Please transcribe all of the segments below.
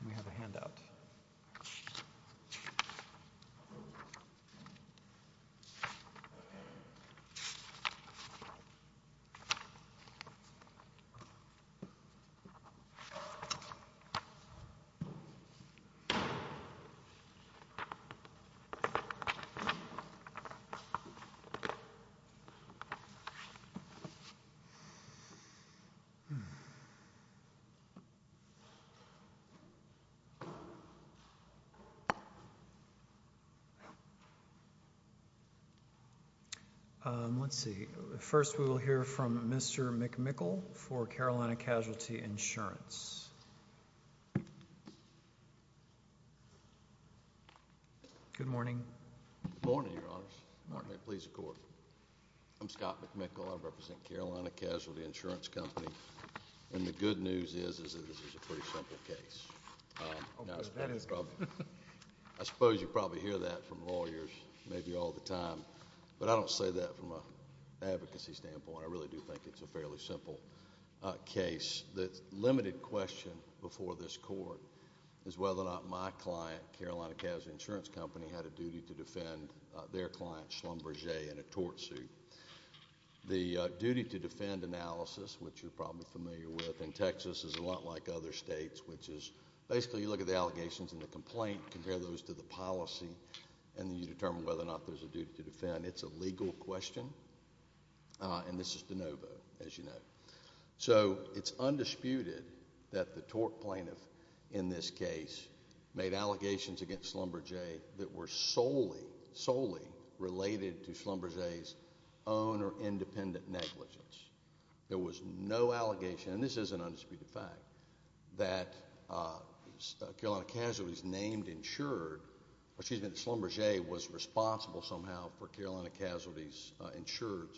Let me have a handout. Let's see, first we will hear from Mr. McMickle for Carolina Casualty Insurance. Good morning. Good morning, Your Honors. May it please the Court. I'm Scott McMickle. I represent Carolina Casualty Insurance Company, and the good news is that this is a pretty simple case. I suppose you probably hear that from lawyers maybe all the time, but I don't say that from an advocacy standpoint. I really do think it's a fairly simple case. The limited question before this Court is whether or not my client, Carolina Casualty I don't think so. I don't think so. I don't think so. I don't think so. I don't think so. to defend their client, Schlumberger, in a tort suit. The duty to defend analysis, which you are probably familiar with in Texas, is a lot like other states, which is, basically you look at the allegations and the complaint, compare those to the policy, and then you determine whether or not there is a duty to defend. It's a legal question, and this is de novo, as you know. So it's undisputed that the tort plaintiff in this case made allegations against Schlumberger that were solely, solely related to Schlumberger's own or independent negligence. There was no allegation, and this is an undisputed fact, that Carolina Casualty's named insured, or excuse me, that Schlumberger was responsible somehow for Carolina Casualty's insured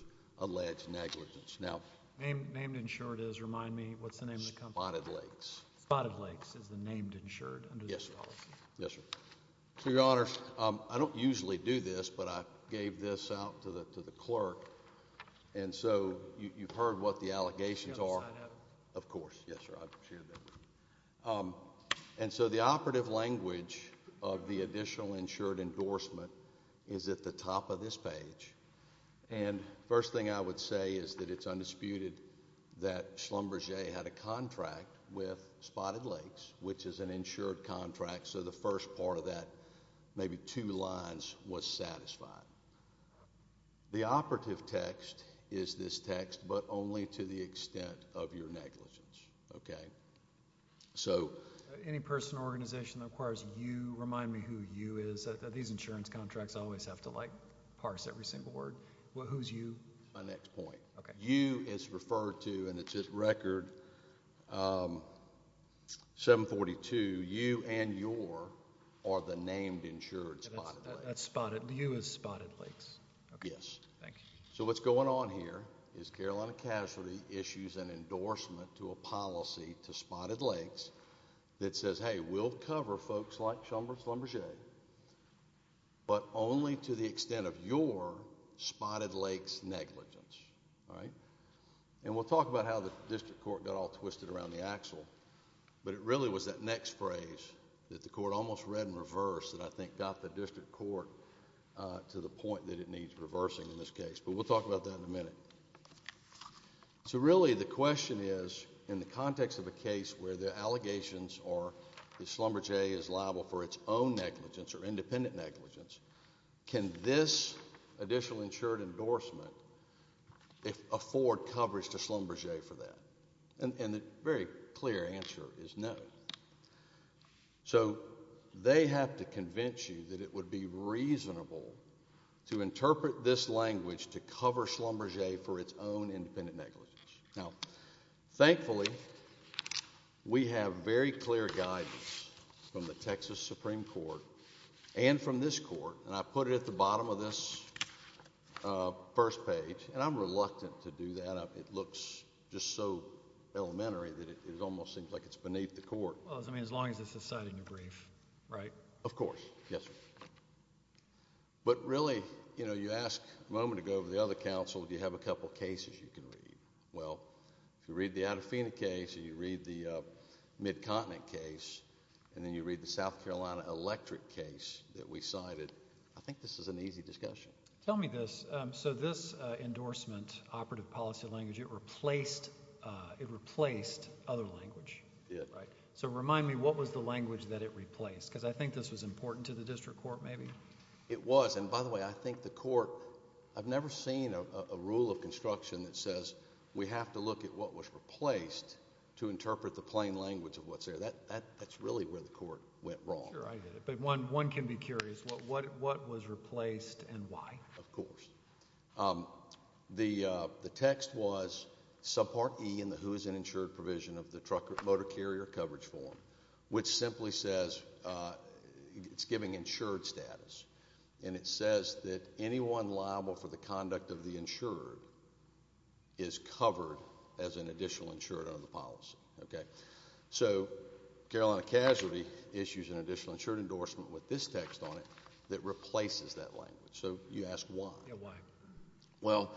alleged negligence. Now... Named insured is, remind me, what's the name of the company? Spotted Lakes. Spotted Lakes is the named insured under this policy? Yes, sir. So, Your Honor, I don't usually do this, but I gave this out to the clerk, and so you've heard what the allegations are. Of course, yes, sir, I've shared that. And so the operative language of the additional insured endorsement is at the top of this page, and first thing I would say is that it's undisputed that Schlumberger had a contract with Spotted Lakes, which is an insured contract, so the first part of that, maybe two lines, was satisfied. The operative text is this text, but only to the extent of your negligence, okay? So... Any person or organization that requires you, remind me who you is. These insurance contracts always have to, like, parse every single word. Who's you? That's my next point. Okay. You is referred to, and it's at record 742, you and your are the named insured Spotted Lakes. That's Spotted... You is Spotted Lakes. Okay. Yes. Thank you. So what's going on here is Carolina Casualty issues an endorsement to a policy to Spotted Lakes that says, hey, we'll cover folks like Schlumberger, but only to the extent of your negligence. All right? And we'll talk about how the district court got all twisted around the axle, but it really was that next phrase that the court almost read in reverse that I think got the district court to the point that it needs reversing in this case, but we'll talk about that in a minute. So really, the question is, in the context of a case where the allegations are that Schlumberger is liable for its own negligence or independent negligence, can this additional insured endorsement afford coverage to Schlumberger for that? And the very clear answer is no. So they have to convince you that it would be reasonable to interpret this language to cover Schlumberger for its own independent negligence. Now, thankfully, we have very clear guidance from the Texas Supreme Court and from this court, and I put it at the bottom of this first page, and I'm reluctant to do that. It looks just so elementary that it almost seems like it's beneath the court. Well, I mean, as long as it's a citing a brief, right? Of course. Yes, sir. But really, you know, you asked a moment ago over the other counsel, do you have a couple of cases you can read? Well, if you read the Adafina case, or you read the Mid-Continent case, and then you read the South Carolina electric case that we cited, I think this is an easy discussion. Tell me this. So this endorsement, operative policy language, it replaced other language, right? So remind me, what was the language that it replaced? Because I think this was important to the district court, maybe? It was. And by the way, I think the court... I've never seen a rule of construction that says we have to look at what was replaced to interpret the plain language of what's there. That's really where the court went wrong. Sure. I get it. But one can be curious. What was replaced and why? Of course. The text was subpart E in the who is an insured provision of the trucker motor carrier coverage form, which simply says... it's giving insured status, and it says that anyone liable for the conduct of the insured is covered as an additional insured under the policy. So Carolina Casualty issues an additional insured endorsement with this text on it that replaces that language. So you ask why? Yeah, why? Well,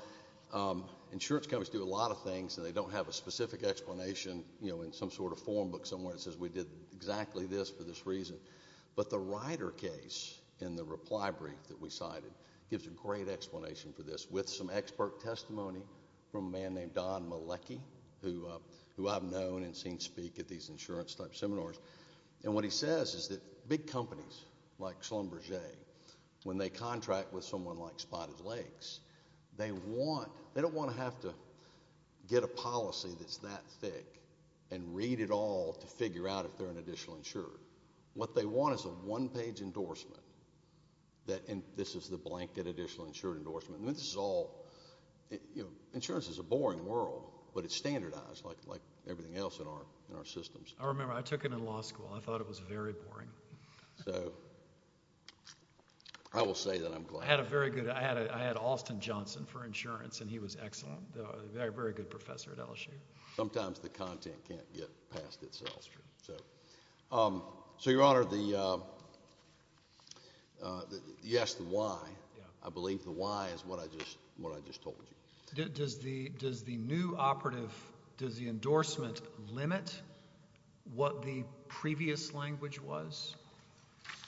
insurance companies do a lot of things, and they don't have a specific explanation in some sort of form book somewhere that says we did exactly this for this reason. But the Ryder case in the reply brief that we cited gives a great explanation for this with some expert testimony from a man named Don Malecki, who I've known and seen speak at these insurance-type seminars, and what he says is that big companies like Schlumberger, when they contract with someone like Spotted Lakes, they don't want to have to get a policy that's that thick and read it all to figure out if they're an additional insured. What they want is a one-page endorsement that... and this is the blanket additional insured endorsement. And this is all... you know, insurance is a boring world, but it's standardized like everything else in our systems. I remember. I took it in law school. I thought it was very boring. So I will say that I'm glad... I had a very good... I had Austin Johnson for insurance, and he was excellent, a very good professor at LSU. Sometimes the content can't get past itself. So Your Honor, the... yes, the why. I believe the why is what I just told you. Does the new operative... does the endorsement limit what the previous language was?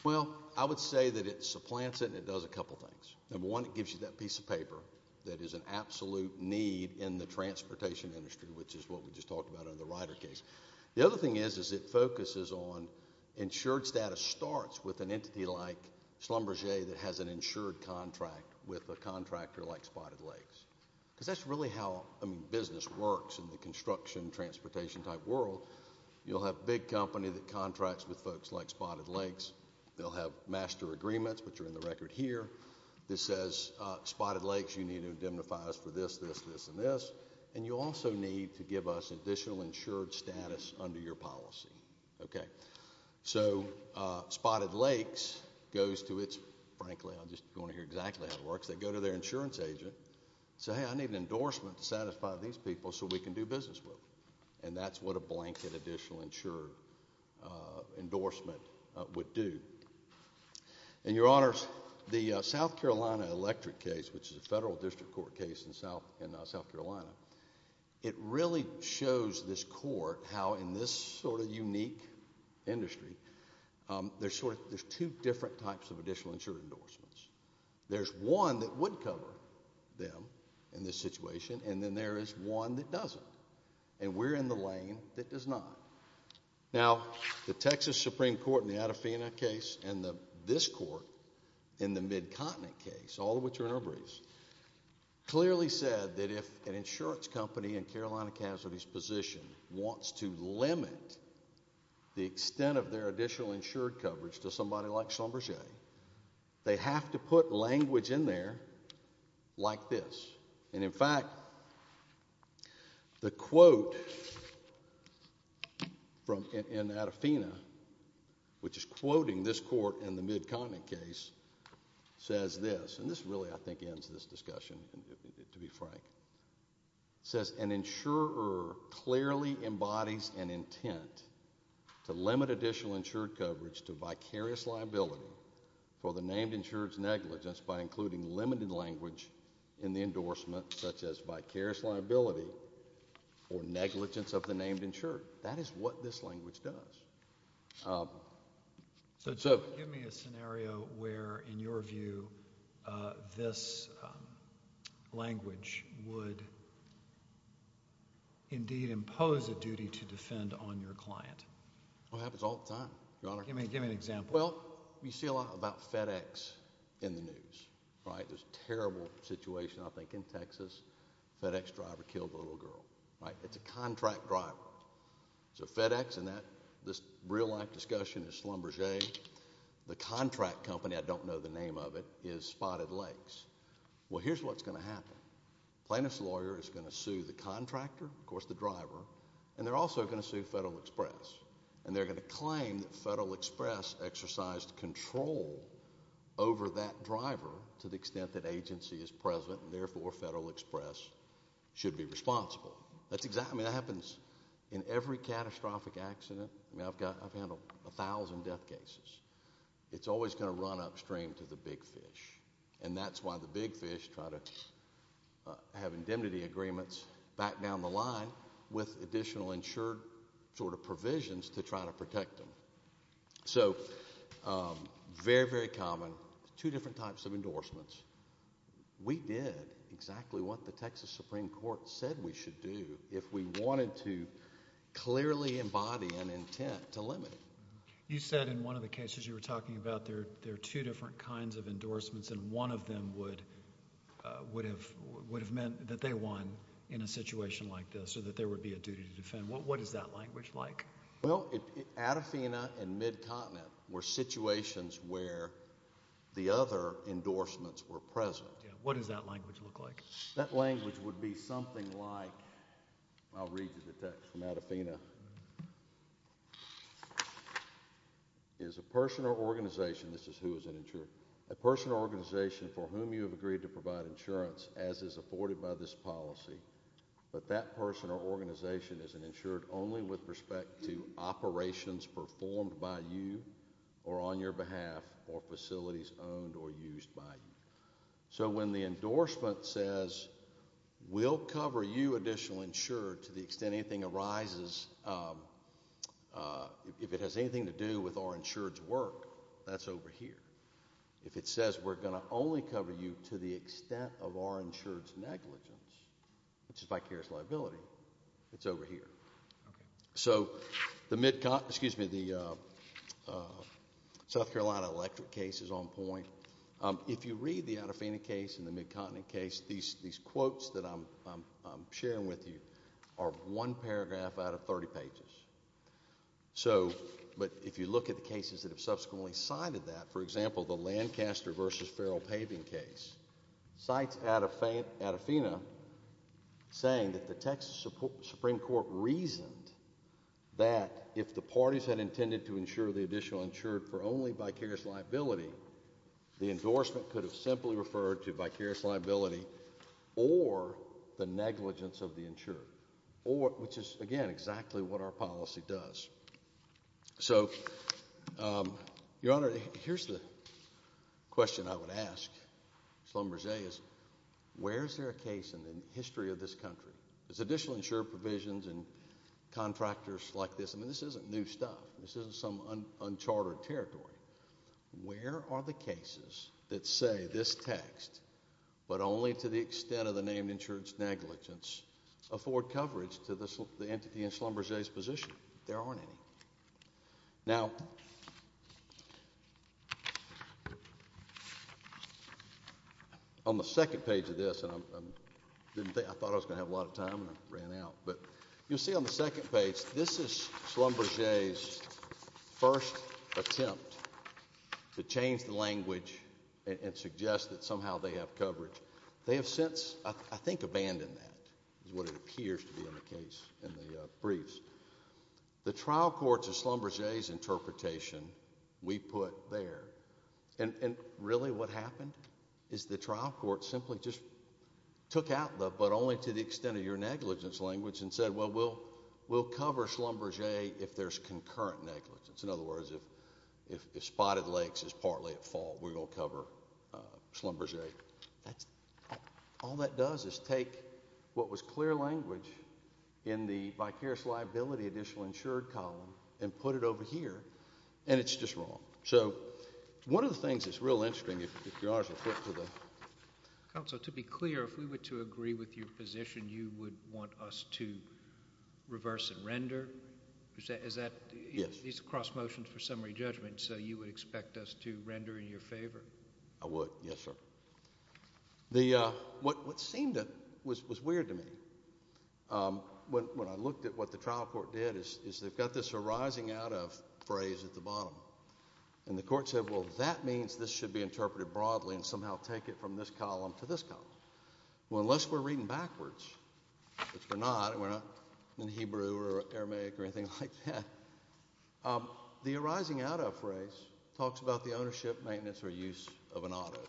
Well, I would say that it supplants it and it does a couple things. Number one, it gives you that piece of paper that is an absolute need in the transportation industry, which is what we just talked about in the Ryder case. The other thing is, is it focuses on... insured status starts with an entity like Schlumberger that has an insured contract with a contractor like Spotted Lakes, because that's really how business works in the construction, transportation-type world. You'll have a big company that contracts with folks like Spotted Lakes. They'll have master agreements, which are in the record here. This says, Spotted Lakes, you need to indemnify us for this, this, this, and this, and you also need to give us additional insured status under your policy, okay? So Spotted Lakes goes to its... frankly, I'm just going to hear exactly how it works. They go to their insurance agent, say, hey, I need an endorsement to satisfy these people so we can do business with them, and that's what a blanket additional insured endorsement would do. And, Your Honors, the South Carolina electric case, which is a federal district court case in South Carolina, it really shows this court how, in this sort of unique industry, there's two different types of additional insured endorsements. There's one that would cover them in this situation, and then there is one that doesn't, and we're in the lane that does not. Now, the Texas Supreme Court in the Adafina case and this court in the Mid-Continent case, all of which are in our briefs, clearly said that if an insurance company in Carolina Casualty's position wants to limit the extent of their additional insured coverage to somebody like Schlumberger, they have to put language in there like this. And, in fact, the quote in Adafina, which is quoting this court in the Mid-Continent case, says this, and this really, I think, ends this discussion, to be frank. It says, an insurer clearly embodies an intent to limit additional insured coverage to vicarious liability for the named insured's negligence by including limited language in the endorsement, such as vicarious liability for negligence of the named insured. That is what this language does. So, give me a scenario where, in your view, this language would indeed impose a duty to defend on your client. It happens all the time, Your Honor. Give me an example. Well, you see a lot about FedEx in the news, right? There's a terrible situation, I think, in Texas, a FedEx driver killed a little girl, right? It's a contract driver. So, FedEx and that, this real-life discussion is Schlumberger. The contract company, I don't know the name of it, is Spotted Lakes. Well, here's what's going to happen. The plaintiff's lawyer is going to sue the contractor, of course the driver, and they're also going to sue Federal Express. And they're going to claim that Federal Express exercised control over that driver to the extent that agency is present, and therefore Federal Express should be responsible. I mean, that happens in every catastrophic accident. I mean, I've handled a thousand death cases. It's always going to run upstream to the big fish. And that's why the big fish try to have indemnity agreements back down the line with additional insured sort of provisions to try to protect them. So very, very common, two different types of endorsements. We did exactly what the Texas Supreme Court said we should do if we wanted to clearly embody an intent to limit it. You said in one of the cases you were talking about, there are two different kinds of endorsements and one of them would have meant that they won in a situation like this, or that there would be a duty to defend. What is that language like? Well, Adafina and Mid-Continent were situations where the other endorsements were present. What does that language look like? That language would be something like, I'll read you the text from Adafina. Is a person or organization, this is who is an insurer, a person or organization for whom you have agreed to provide insurance, as is afforded by this policy, but that person or organization is insured only with respect to operations performed by you or on your behalf or facilities owned or used by you. So when the endorsement says, we'll cover you additional insured to the extent anything arises, if it has anything to do with our insured's work, that's over here. If it says we're going to only cover you to the extent of our insured's negligence, which is vicarious liability, it's over here. So the Mid-Continent, excuse me, the South Carolina electric case is on point. If you read the Adafina case and the Mid-Continent case, these quotes that I'm sharing with you are one paragraph out of 30 pages. So, but if you look at the cases that have subsequently cited that, for example, the Lancaster versus Farrell paving case, cites Adafina saying that the Texas Supreme Court reasoned that if the parties had intended to insure the additional insured for only vicarious liability, the endorsement could have simply referred to vicarious liability or the negligence of the insured, which is, again, exactly what our policy does. So Your Honor, here's the question I would ask Sloan-Berger is, where is there a case in the history of this country, there's additional insured provisions and contractors like this, I mean this isn't new stuff, this isn't some uncharted territory, where are the cases that say this text, but only to the extent of the name insured negligence, afford coverage to the entity in Sloan-Berger's position? There aren't any. Now, on the second page of this, and I didn't think, I thought I was going to have a lot of time and I ran out, but you'll see on the second page, this is Sloan-Berger's first attempt to change the language and suggest that somehow they have coverage. They have since, I think, abandoned that, is what it appears to be in the briefs. The trial courts of Sloan-Berger's interpretation, we put there, and really what happened is the trial court simply just took out the, but only to the extent of your negligence language and said, well, we'll cover Sloan-Berger if there's concurrent negligence. In other words, if Spotted Lakes is partly at fault, we're going to cover Sloan-Berger. All that does is take what was clear language in the vicarious liability additional insured column and put it over here, and it's just wrong. So one of the things that's real interesting, if you're honest, I'll flip to the... Counsel, to be clear, if we were to agree with your position, you would want us to reverse and render? Is that... Yes. These are cross motions for summary judgment, so you would expect us to render in your favor? I would, yes, sir. What seemed was weird to me, when I looked at what the trial court did, is they've got this arising out of phrase at the bottom, and the court said, well, that means this should be interpreted broadly and somehow take it from this column to this column. Well, unless we're reading backwards, which we're not, and we're not in Hebrew or Aramaic or anything like that, the arising out of phrase talks about the ownership, maintenance, or use of an auto.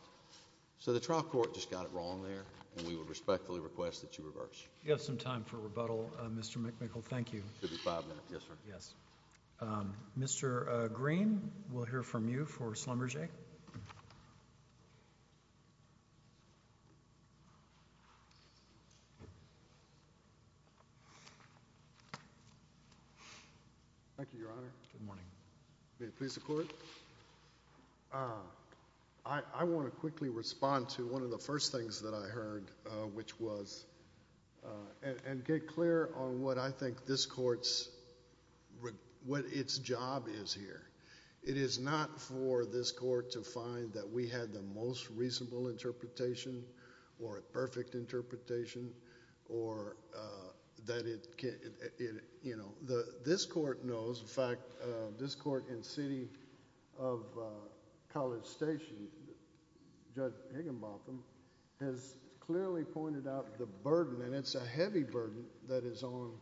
So the trial court just got it wrong there, and we would respectfully request that you reverse. You have some time for rebuttal, Mr. McMickle. Thank you. Could be five minutes. Yes, sir. Yes. Mr. Green, we'll hear from you for Sloan-Berger. Mr. McMickle. Thank you, Your Honor. Good morning. May it please the Court? I want to quickly respond to one of the first things that I heard, which was, and get clear on what I think this Court's, what its job is here. It is not for this Court to find that we had the most reasonable interpretation or a perfect interpretation or that it, you know, this Court knows, in fact, this Court in City of College Station, Judge Higginbotham, has clearly pointed out the burden, and it's a heavy burden that is on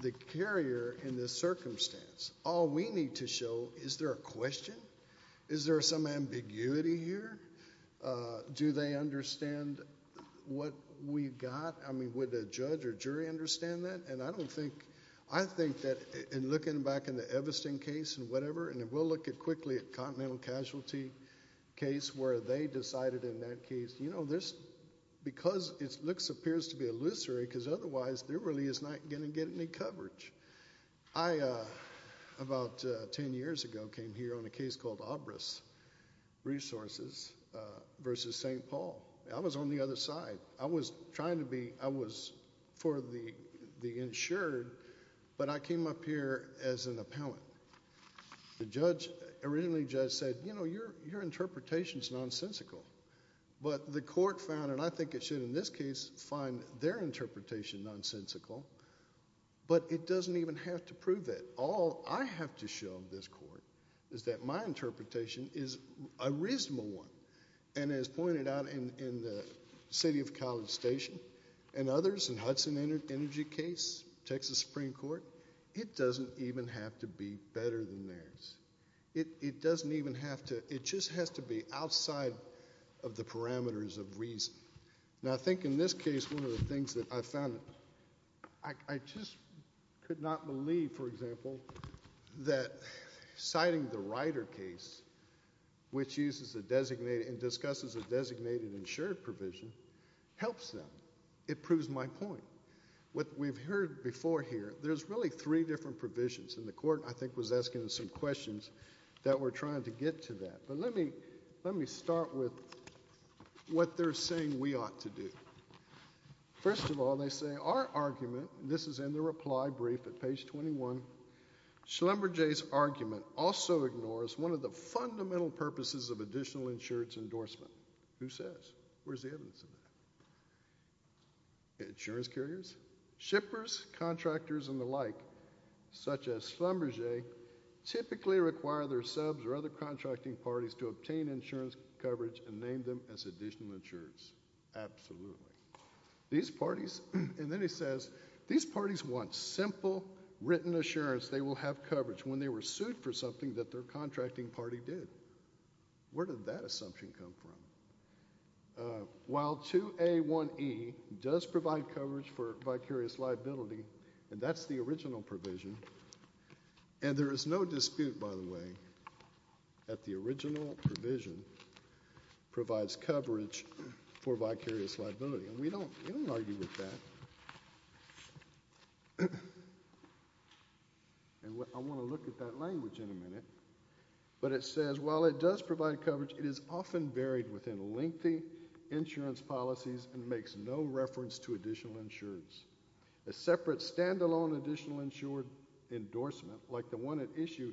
the carrier in this circumstance. All we need to show, is there a question? Is there some ambiguity here? Do they understand what we've got? I mean, would the judge or jury understand that? And I don't think, I think that in looking back in the Evesting case and whatever, and we'll look at quickly at Continental Casualty case, where they decided in that case, you know, there's, because it looks, appears to be illusory, because otherwise, there really is not going to get any coverage. I, about ten years ago, came here on a case called Obris Resources versus St. Paul. I was on the other side. I was trying to be, I was for the insured, but I came up here as an appellant. The judge, originally the judge said, you know, your interpretation is nonsensical. But the Court found, and I think it should in this case find their interpretation nonsensical, but it doesn't even have to prove that. All I have to show this Court is that my interpretation is a reasonable one. And as pointed out in the City of College Station and others, in Hudson Energy case, Texas Supreme Court, it doesn't even have to be better than theirs. It doesn't even have to, it just has to be outside of the parameters of reason. Now, I think in this case, one of the things that I found, I just could not believe, for example, that citing the Ryder case, which uses a designated, and discusses a designated insured provision, helps them. It proves my point. What we've heard before here, there's really three different provisions, and the Court, I think, was asking some questions that were trying to get to that. But let me start with what they're saying we ought to do. First of all, they say, our argument, and this is in the reply brief at page 21, Schlumberger's argument also ignores one of the fundamental purposes of additional insurance endorsement. Who says? Where's the evidence of that? Insurance carriers? Shippers, contractors, and the like, such as Schlumberger, typically require their subs or other contracting parties to obtain insurance coverage and name them as additional insurance. Absolutely. These parties, and then he says, these parties want simple, written assurance they will have coverage when they were sued for something that their contracting party did. Where did that assumption come from? While 2A1E does provide coverage for vicarious liability, and that's the original provision, and there is no dispute, by the way, that the original provision provides coverage for vicarious liability. And we don't argue with that. And I want to look at that language in a minute. But it says, while it does provide coverage, it is often buried within lengthy insurance policies and makes no reference to additional insurance. A separate, stand-alone additional insurance endorsement, like the one at issue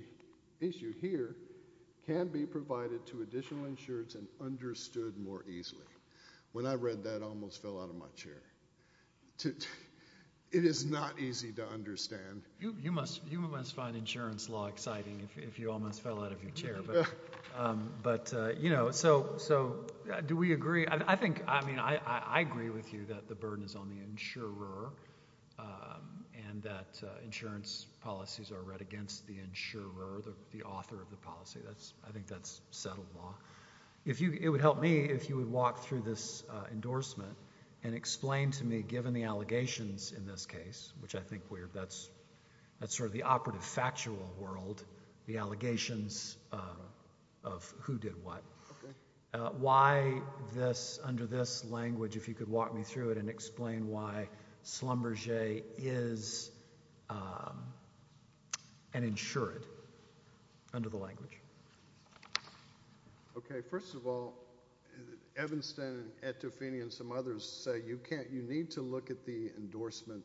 here, can be provided to additional insurers and understood more easily. When I read that, I almost fell out of my chair. It is not easy to understand. You must find insurance law exciting if you almost fell out of your chair. But, you know, so do we agree? I think, I mean, I agree with you that the burden is on the insurer and that insurance policies are read against the insurer, the author of the policy. I think that's settled law. It would help me if you would walk through this endorsement and explain to me, given the allegations in this case, which I think that's sort of the operative factual world, the allegations of who did what, why this, under this language, if you could walk me through it and explain why Schlumberger is an insured under the language. Okay. First of all, Evanston, Etofini and some others say you can't, you need to look at the endorsement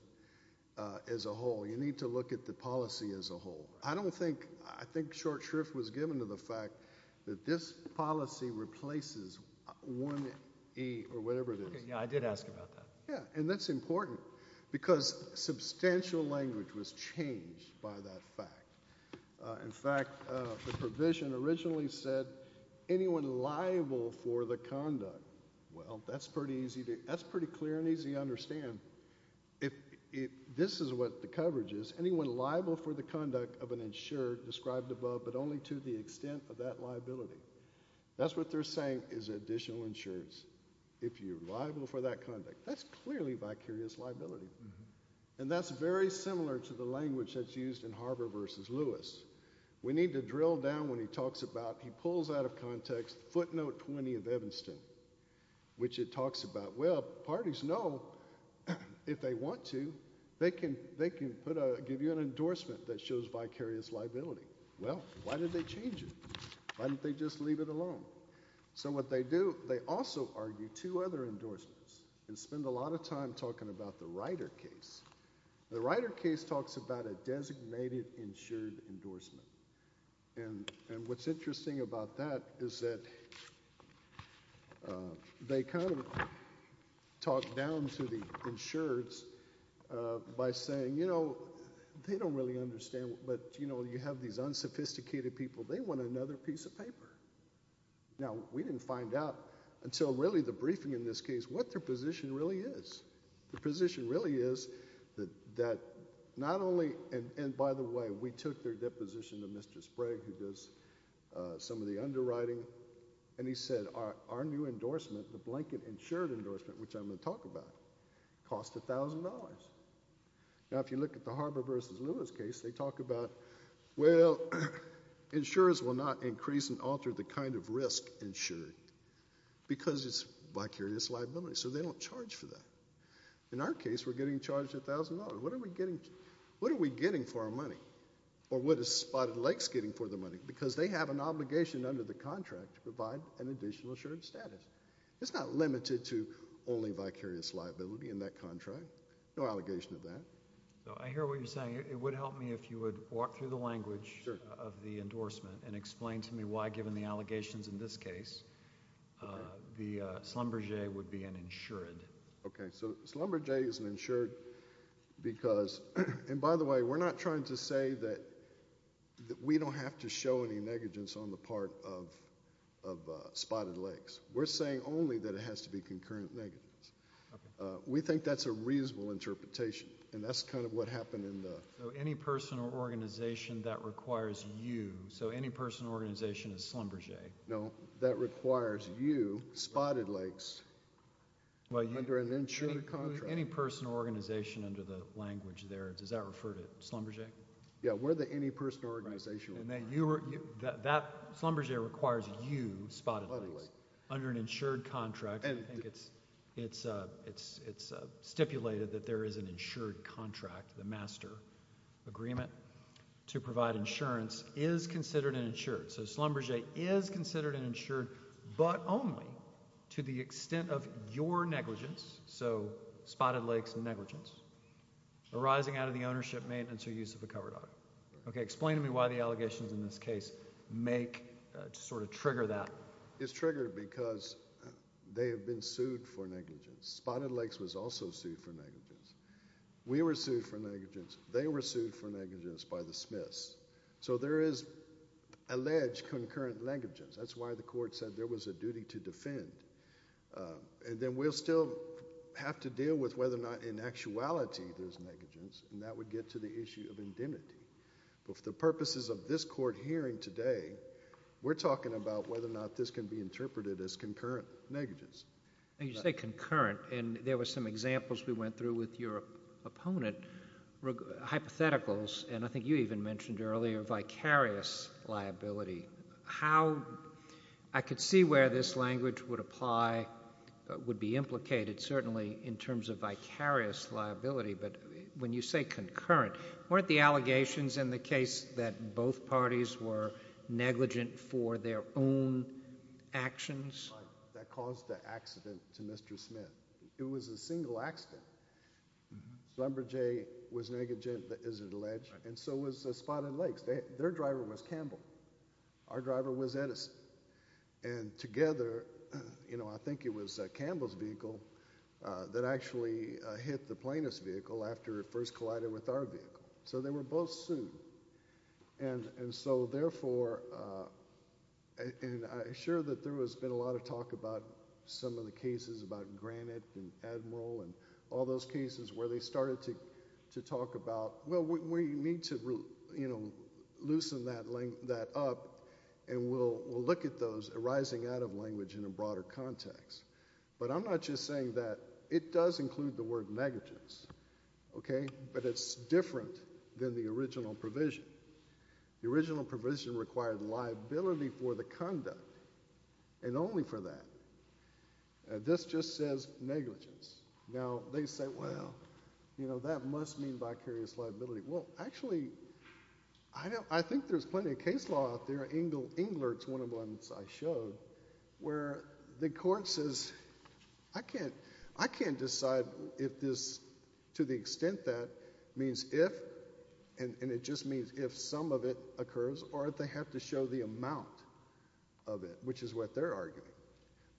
as a whole. You need to look at the policy as a whole. I don't think, I think short shrift was given to the fact that this policy replaces 1E or whatever it is. Yeah, I did ask about that. Yeah, and that's important because substantial language was changed by that fact. In fact, the provision originally said anyone liable for the conduct, well, that's pretty If this is what the coverage is, anyone liable for the conduct of an insured described above, but only to the extent of that liability. That's what they're saying is additional insureds. If you're liable for that conduct, that's clearly vicarious liability. And that's very similar to the language that's used in Harbor versus Lewis. We need to drill down when he talks about, he pulls out of context footnote 20 of Evanston, which it talks about, well, parties know if they want to, they can, they can put a, give you an endorsement that shows vicarious liability. Well, why did they change it? Why didn't they just leave it alone? So what they do, they also argue two other endorsements and spend a lot of time talking about the Ryder case. The Ryder case talks about a designated insured endorsement. And, and what's interesting about that is that they kind of talk down to the insureds by saying, you know, they don't really understand, but you know, you have these unsophisticated people, they want another piece of paper. Now we didn't find out until really the briefing in this case, what their position really is. The position really is that, that not only, and, and by the way, we took their deposition to Mr. Sprague who does some of the underwriting, and he said, our, our new endorsement, the blanket insured endorsement, which I'm going to talk about, cost $1,000. Now if you look at the Harbor versus Lewis case, they talk about, well, insurers will not increase and alter the kind of risk insured because it's vicarious liability. So they don't charge for that. In our case, we're getting charged $1,000. What are we getting, what are we getting for our money? Or what is Spotted Lakes getting for their money? Because they have an obligation under the contract to provide an additional insured status. It's not limited to only vicarious liability in that contract. No allegation of that. I hear what you're saying. It would help me if you would walk through the language of the endorsement and explain to me why, given the allegations in this case, the Schlumberger would be an insured. Okay, so Schlumberger is an insured because, and by the way, we're not trying to say that, that we don't have to show any negligence on the part of, of Spotted Lakes. We're saying only that it has to be concurrent negligence. Okay. We think that's a reasonable interpretation, and that's kind of what happened in the. So any person or organization that requires you, so any person or organization is Schlumberger. No, that requires you, Spotted Lakes, under an insured contract. Any person or organization under the language there, does that refer to Schlumberger? Yeah, we're the any person or organization. And then you, that, that, Schlumberger requires you, Spotted Lakes, under an insured contract. And I think it's, it's, it's, it's stipulated that there is an insured contract, the master agreement, to provide insurance is considered an insured. So Schlumberger is considered an insured, but only to the extent of your negligence, so Spotted Lakes negligence, arising out of the ownership, maintenance, or use of a cover dog. Okay, explain to me why the allegations in this case make, sort of trigger that. It's triggered because they have been sued for negligence. Spotted Lakes was also sued for negligence. We were sued for negligence. They were sued for negligence by the Smiths. So there is alleged concurrent negligence. That's why the court said there was a duty to defend. And then we'll still have to deal with whether or not in actuality there's negligence, and that would get to the issue of indemnity. But for the purposes of this court hearing today, we're talking about whether or not this can be interpreted as concurrent negligence. You say concurrent, and there were some examples we went through with your opponent, hypotheticals, and I think you even mentioned earlier vicarious liability. How, I could see where this language would apply, would be implicated certainly in terms of vicarious liability, but when you say concurrent, weren't the allegations in the case that both parties were negligent for their own actions? That caused the accident to Mr. Smith. It was a single accident. Lumberjay was negligent, as alleged, and so was Spotted Lakes. Their driver was Campbell. Our driver was Edison. And together, you know, I think it was Campbell's vehicle that actually hit the plaintiff's vehicle after it first collided with our vehicle. So they were both sued. And so therefore, and I'm sure that there has been a lot of talk about some of the cases about Granite and Admiral and all those cases where they started to talk about, well, we need to, you know, loosen that up, and we'll look at those arising out of language in a broader context. But I'm not just saying that it does include the word negligence, okay? But it's different than the original provision. The original provision required liability for the conduct, and only for that. This just says negligence. Now, they say, well, you know, that must mean vicarious liability. Well, actually, I think there's plenty of case law out there. Englert's one of the ones I showed where the court says, I can't decide if this, to the extent that means if, and it just means if some of it occurs, or if they have to show the amount of it, which is what they're arguing.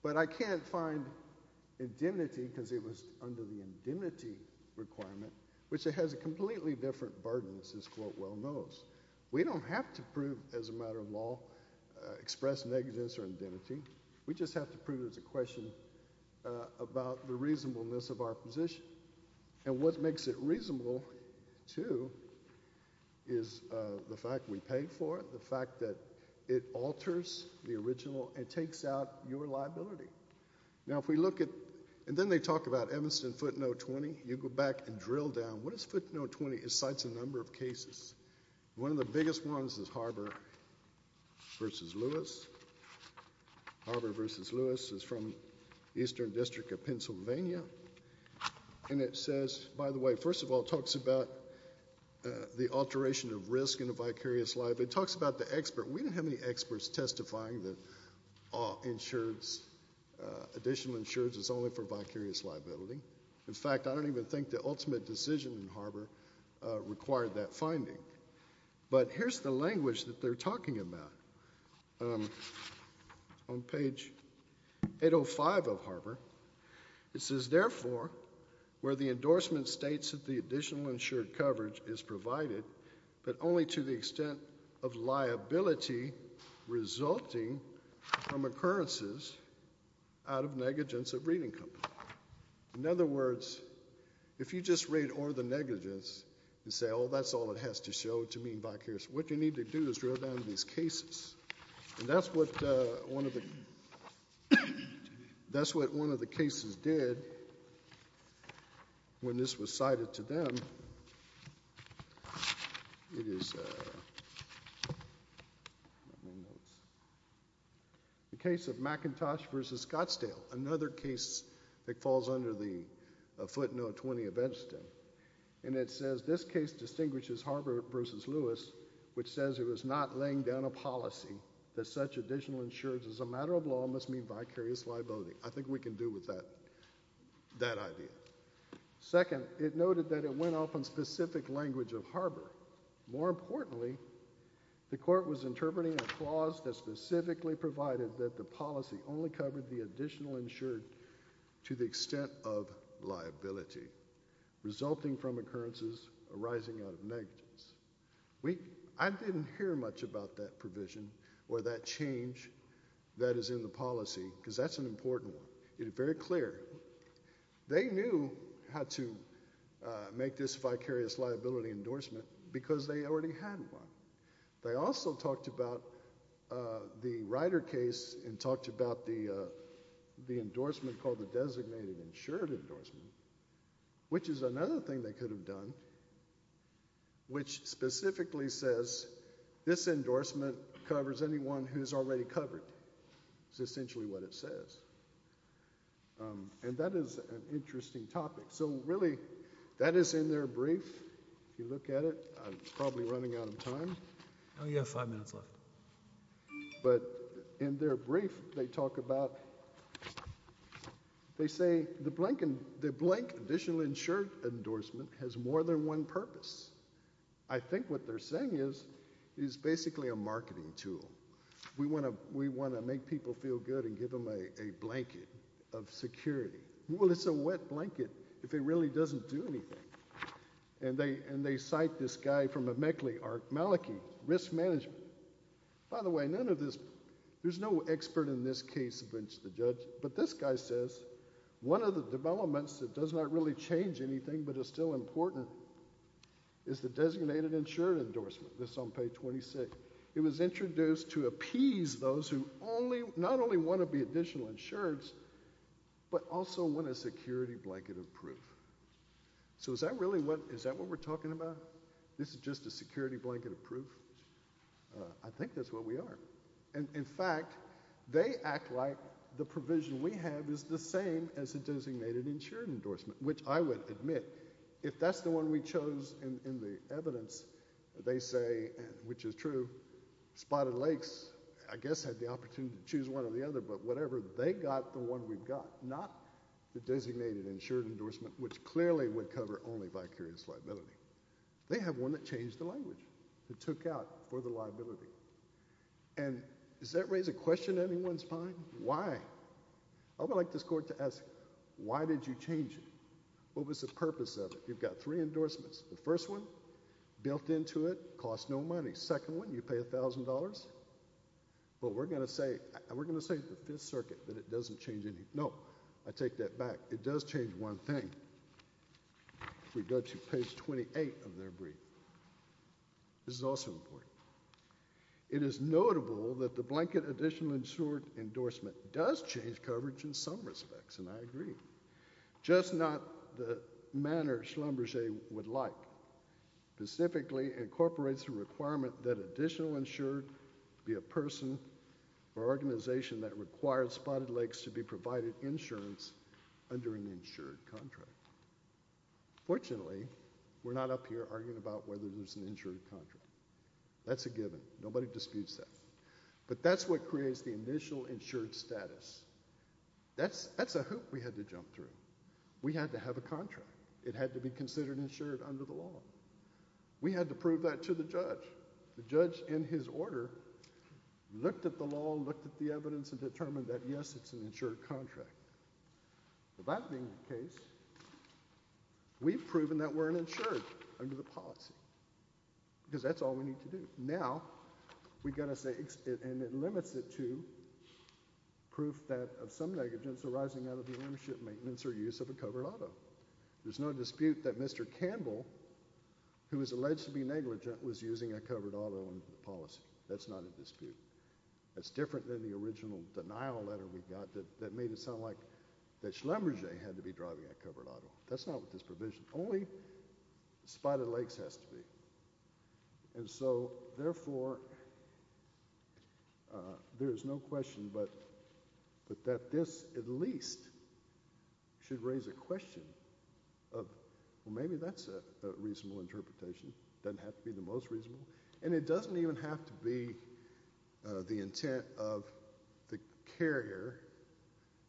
But I can't find indemnity, because it was under the indemnity requirement, which it has a completely different burden, as this quote well knows. We don't have to prove, as a matter of law, express negligence or indemnity. We just have to prove there's a question about the reasonableness of our position. And what makes it reasonable, too, is the fact we pay for it, the fact that it alters the original and takes out your liability. Now, if we look at, and then they talk about Evanston footnote 20. You go back and drill down. What is footnote 20? It cites a number of cases. One of the biggest ones is Harbor v. Lewis. Harbor v. Lewis is from Eastern District of Pennsylvania. And it says, by the way, first of all, it talks about the alteration of risk in a vicarious liability. It talks about the expert. We don't have any experts testifying that additional insurance is only for vicarious liability. In fact, I don't even think the ultimate decision in Harbor required that finding. But here's the language that they're talking about on page 805 of Harbor. It says, therefore, where the endorsement states that the additional insured coverage is provided, but only to the extent of liability resulting from occurrences out of negligence of reading company. In other words, if you just read or the negligence and say, oh, that's all it has to show to mean vicarious, what you need to do is drill down to these cases. And that's what one of the cases did when this was cited to them. The case of McIntosh v. Scottsdale. Another case that falls under the footnote 20 of Edgston. And it says, this case distinguishes Harbor v. Lewis, which says it was not laying down a policy that such additional insurance as a matter of law must mean vicarious liability. I think we can do with that idea. Second, it noted that it went off on specific language of Harbor. More importantly, the court was interpreting a clause that specifically provided that the policy only covered the additional insured to the extent of liability resulting from occurrences arising out of negligence. I didn't hear much about that provision or that change that is in the policy, because that's an important one. It is very clear. They knew how to make this vicarious liability endorsement, because they already had one. They also talked about the Ryder case and talked about the endorsement called the Designated Insured Endorsement, which is another thing they could have done, which specifically says, this endorsement covers anyone who is already covered. It's essentially what it says. And that is an interesting topic. So really, that is in their brief. If you look at it, I'm probably running out of time. Oh, you have five minutes left. But in their brief, they talk about, they say, the blank additional insured endorsement has more than one purpose. I think what they're saying is, it's basically a marketing tool. We want to make people feel good and give them a blanket of security. Well, it's a wet blanket if it really doesn't do anything. And they cite this guy from Amekli, Maliki, risk management. By the way, none of this, there's no expert in this case amongst the judge. But this guy says, one of the developments that does not really change anything but is still important is the Designated Insured Endorsement, this on page 26. It was introduced to appease those who not only want to be additional insureds, but also want a security blanket of proof. So is that really what, is that what we're talking about? This is just a security blanket of proof? I think that's what we are. And in fact, they act like the provision we have is the same as the Designated Insured Endorsement, which I would admit, if that's the one we chose in the evidence, they say, which is true, Spotted Lakes, I guess, had the opportunity to choose one or the other. But whatever, they got the one we've got, not the Designated Insured Endorsement, which clearly would cover only vicarious liability. They have one that changed the language, that took out for the liability. And does that raise a question in anyone's mind? Why? I would like this court to ask, why did you change it? What was the purpose of it? You've got three endorsements. The first one, built into it, costs no money. Second one, you pay $1,000. But we're going to say, we're going to say the Fifth Circuit, that it doesn't change anything. No, I take that back. It does change one thing. We go to page 28 of their brief. This is also important. It is notable that the Blanket Additional Insured Endorsement does change coverage in some respects, and I agree. Just not the manner Schlumberger would like. Specifically, incorporates the requirement that additional insured be a person or organization that requires Spotted Lakes to be provided insurance under an insured contract. Fortunately, we're not up here arguing about whether there's an insured contract. That's a given. Nobody disputes that. But that's what creates the initial insured status. That's a hoop we had to jump through. We had to have a contract. We had to prove that to the judge. The judge, in his order, looked at the law, looked at the evidence, and determined that, yes, it's an insured contract. With that being the case, we've proven that we're an insured under the policy, because that's all we need to do. Now, we've got to say, and it limits it to proof that of some negligence arising out of the ownership, maintenance, or use of a covered auto. There's no dispute that Mr. Campbell, who is alleged to be negligent, was using a covered auto under the policy. That's not a dispute. That's different than the original denial letter we got that made it sound like that Schlumberger had to be driving a covered auto. That's not with this provision. Only Spotted Lakes has to be. And so, therefore, there is no question but that this, at least, should raise a question of, well, maybe that's a reasonable interpretation. Doesn't have to be the most reasonable. And it doesn't even have to be the intent of the carrier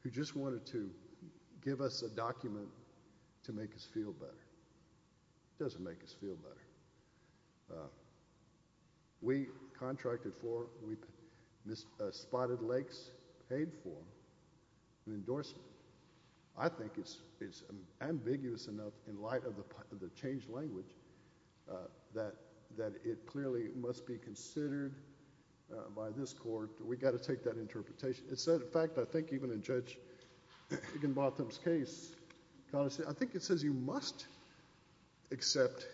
who just wanted to give us a document to make us feel better. It doesn't make us feel better. We contracted for, Spotted Lakes paid for an endorsement. I think it's ambiguous enough in light of the changed language that it clearly must be considered by this court. We've got to take that interpretation. In fact, I think even in Judge Higginbotham's case, I think it says you must accept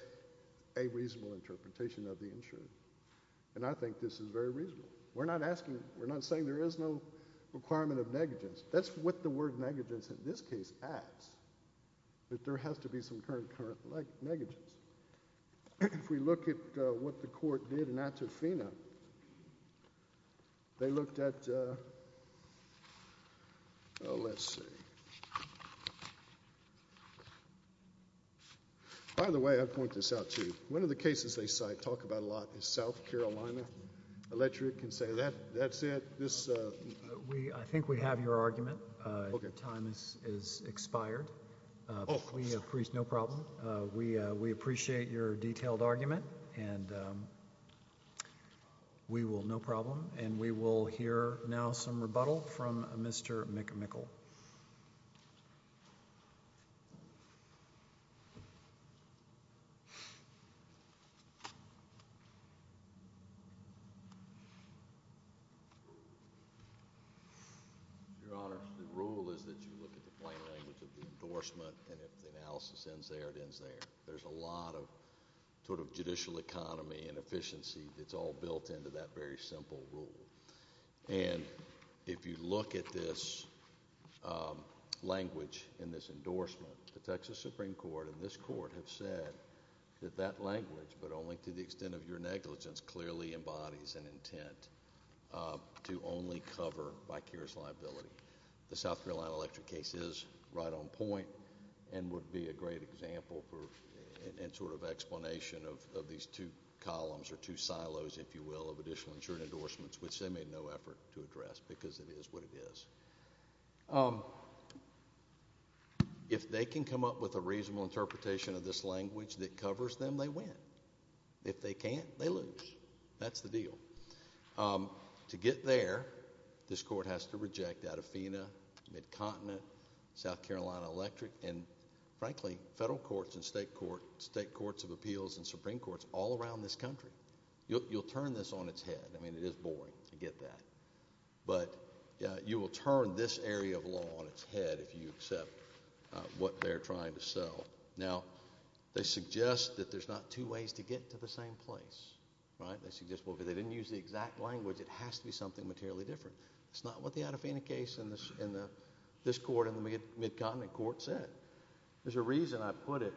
a reasonable interpretation of the insurance. And I think this is very reasonable. We're not saying there is no requirement of negligence. That's what the word negligence, in this case, adds, that there has to be some current negligence. If we look at what the court did in Atufina, they looked at, oh, let's see. By the way, I'd point this out, too. One of the cases they cite, talk about a lot, is South Carolina Electric and say, that's it. We, I think we have your argument. Time is expired. No problem. We appreciate your detailed argument. And we will, no problem. And we will hear now some rebuttal from Mr. McMichael. Your Honor, the rule is that you look at the plain language of the endorsement. And if the analysis ends there, it ends there. There's a lot of judicial economy and efficiency that's all built into that very simple rule. And if you look at this language in this endorsement, the Texas Supreme Court and this court have said that that language, but only to the extent of your negligence, clearly embodies an intent to only cover by Keir's liability. The South Carolina Electric case is right on point and would be a great example for an explanation of these two columns or two silos, if you will, of additional insured endorsements, which they made no effort to address because it is what it is. If they can come up with a reasonable interpretation of this language that covers them, they win. If they can't, they lose. That's the deal. To get there, this court has to reject Adafina, Midcontinent, South Carolina Electric, and frankly, federal courts and state courts of appeals and Supreme Courts all around this country. You'll turn this on its head. I mean, it is boring. I get that. But you will turn this area of law on its head if you accept what they're trying to sell. Now, they suggest that there's not two ways to get to the same place, right? They suggest, well, if they didn't use the exact language, it has to be something materially different. It's not what the Adafina case in this court in the Midcontinent court said. There's a reason I put it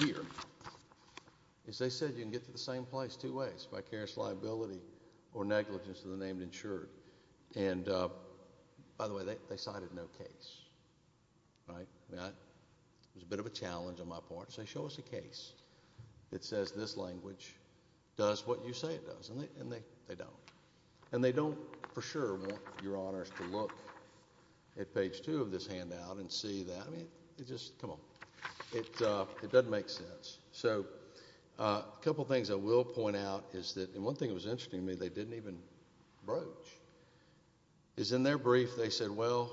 here, is they said you can get to the same place two ways, by Keir's liability or negligence of the name insured. And by the way, they cited no case, right? It was a bit of a challenge on my part, so show us a case that says this language does what you say it does, and they don't. And they don't, for sure, want your honors to look at page two of this handout and see that. I mean, it just, come on, it doesn't make sense. So a couple things I will point out is that, and one thing that was even broached, is in their brief, they said, well,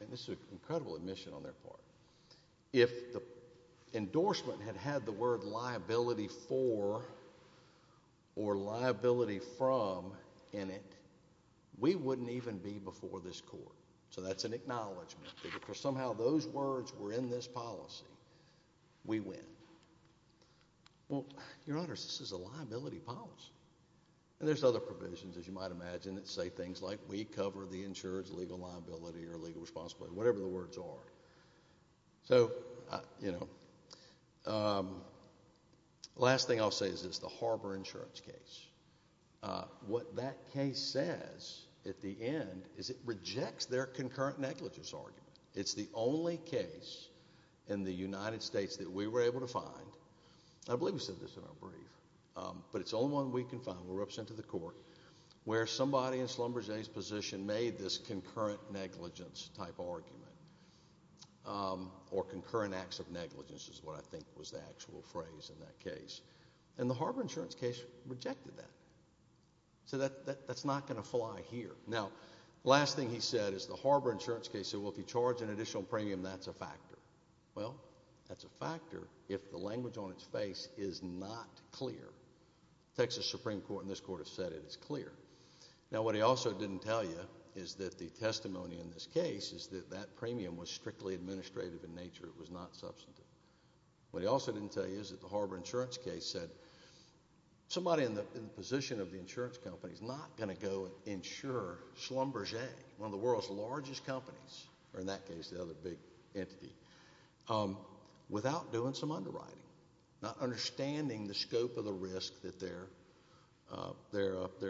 and this is an incredible admission on their part, if the endorsement had had the word liability for or liability from in it, we wouldn't even be before this court. So that's an acknowledgment, that if somehow those words were in this policy, we win. Well, your honors, this is a liability policy. And there's other provisions, as you might imagine, that say things like, we cover the insured's legal liability or legal responsibility, whatever the words are. So, you know, last thing I'll say is this, the Harbor insurance case. What that case says, at the end, is it rejects their concurrent negligence argument. It's the only case in the United States that we were able to find. I believe we said this in our brief. But it's the only one we can find, we're representing the court, where somebody in Schlumberger's position made this concurrent negligence type argument, or concurrent acts of negligence, is what I think was the actual phrase in that case. And the Harbor insurance case rejected that. So that's not going to fly here. Now, last thing he said is the Harbor insurance case said, well, if you charge an additional premium, that's a factor. Well, that's a factor if the language on its face is not clear. Texas Supreme Court in this court has said it is clear. Now, what he also didn't tell you is that the testimony in this case is that that premium was strictly administrative in nature, it was not substantive. What he also didn't tell you is that the Harbor insurance case said, somebody in the position of the insurance company is not going to go insure Schlumberger, one of the world's largest companies, or in that case, the other big entity, without doing some underwriting, not understanding the scope of the risk that they're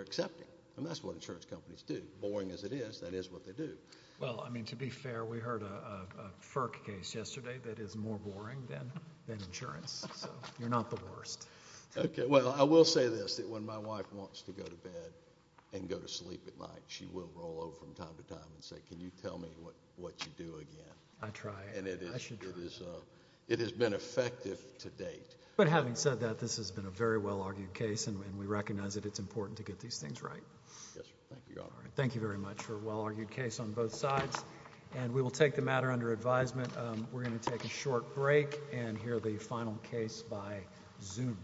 accepting, and that's what insurance companies do. Boring as it is, that is what they do. Well, I mean, to be fair, we heard a FERC case yesterday that is more boring than insurance, so you're not the worst. Okay. Well, I will say this, that when my wife wants to go to bed and go to sleep at night, she will roll over from time to time and say, can you tell me what you do again? I try. I should try. It has been effective to date. But having said that, this has been a very well-argued case, and we recognize that it's important to get these things right. Yes, sir. Thank you, Your Honor. All right. Thank you very much for a well-argued case on both sides, and we will take the matter under advisement. We're going to take a short break and hear the final case by Zoom.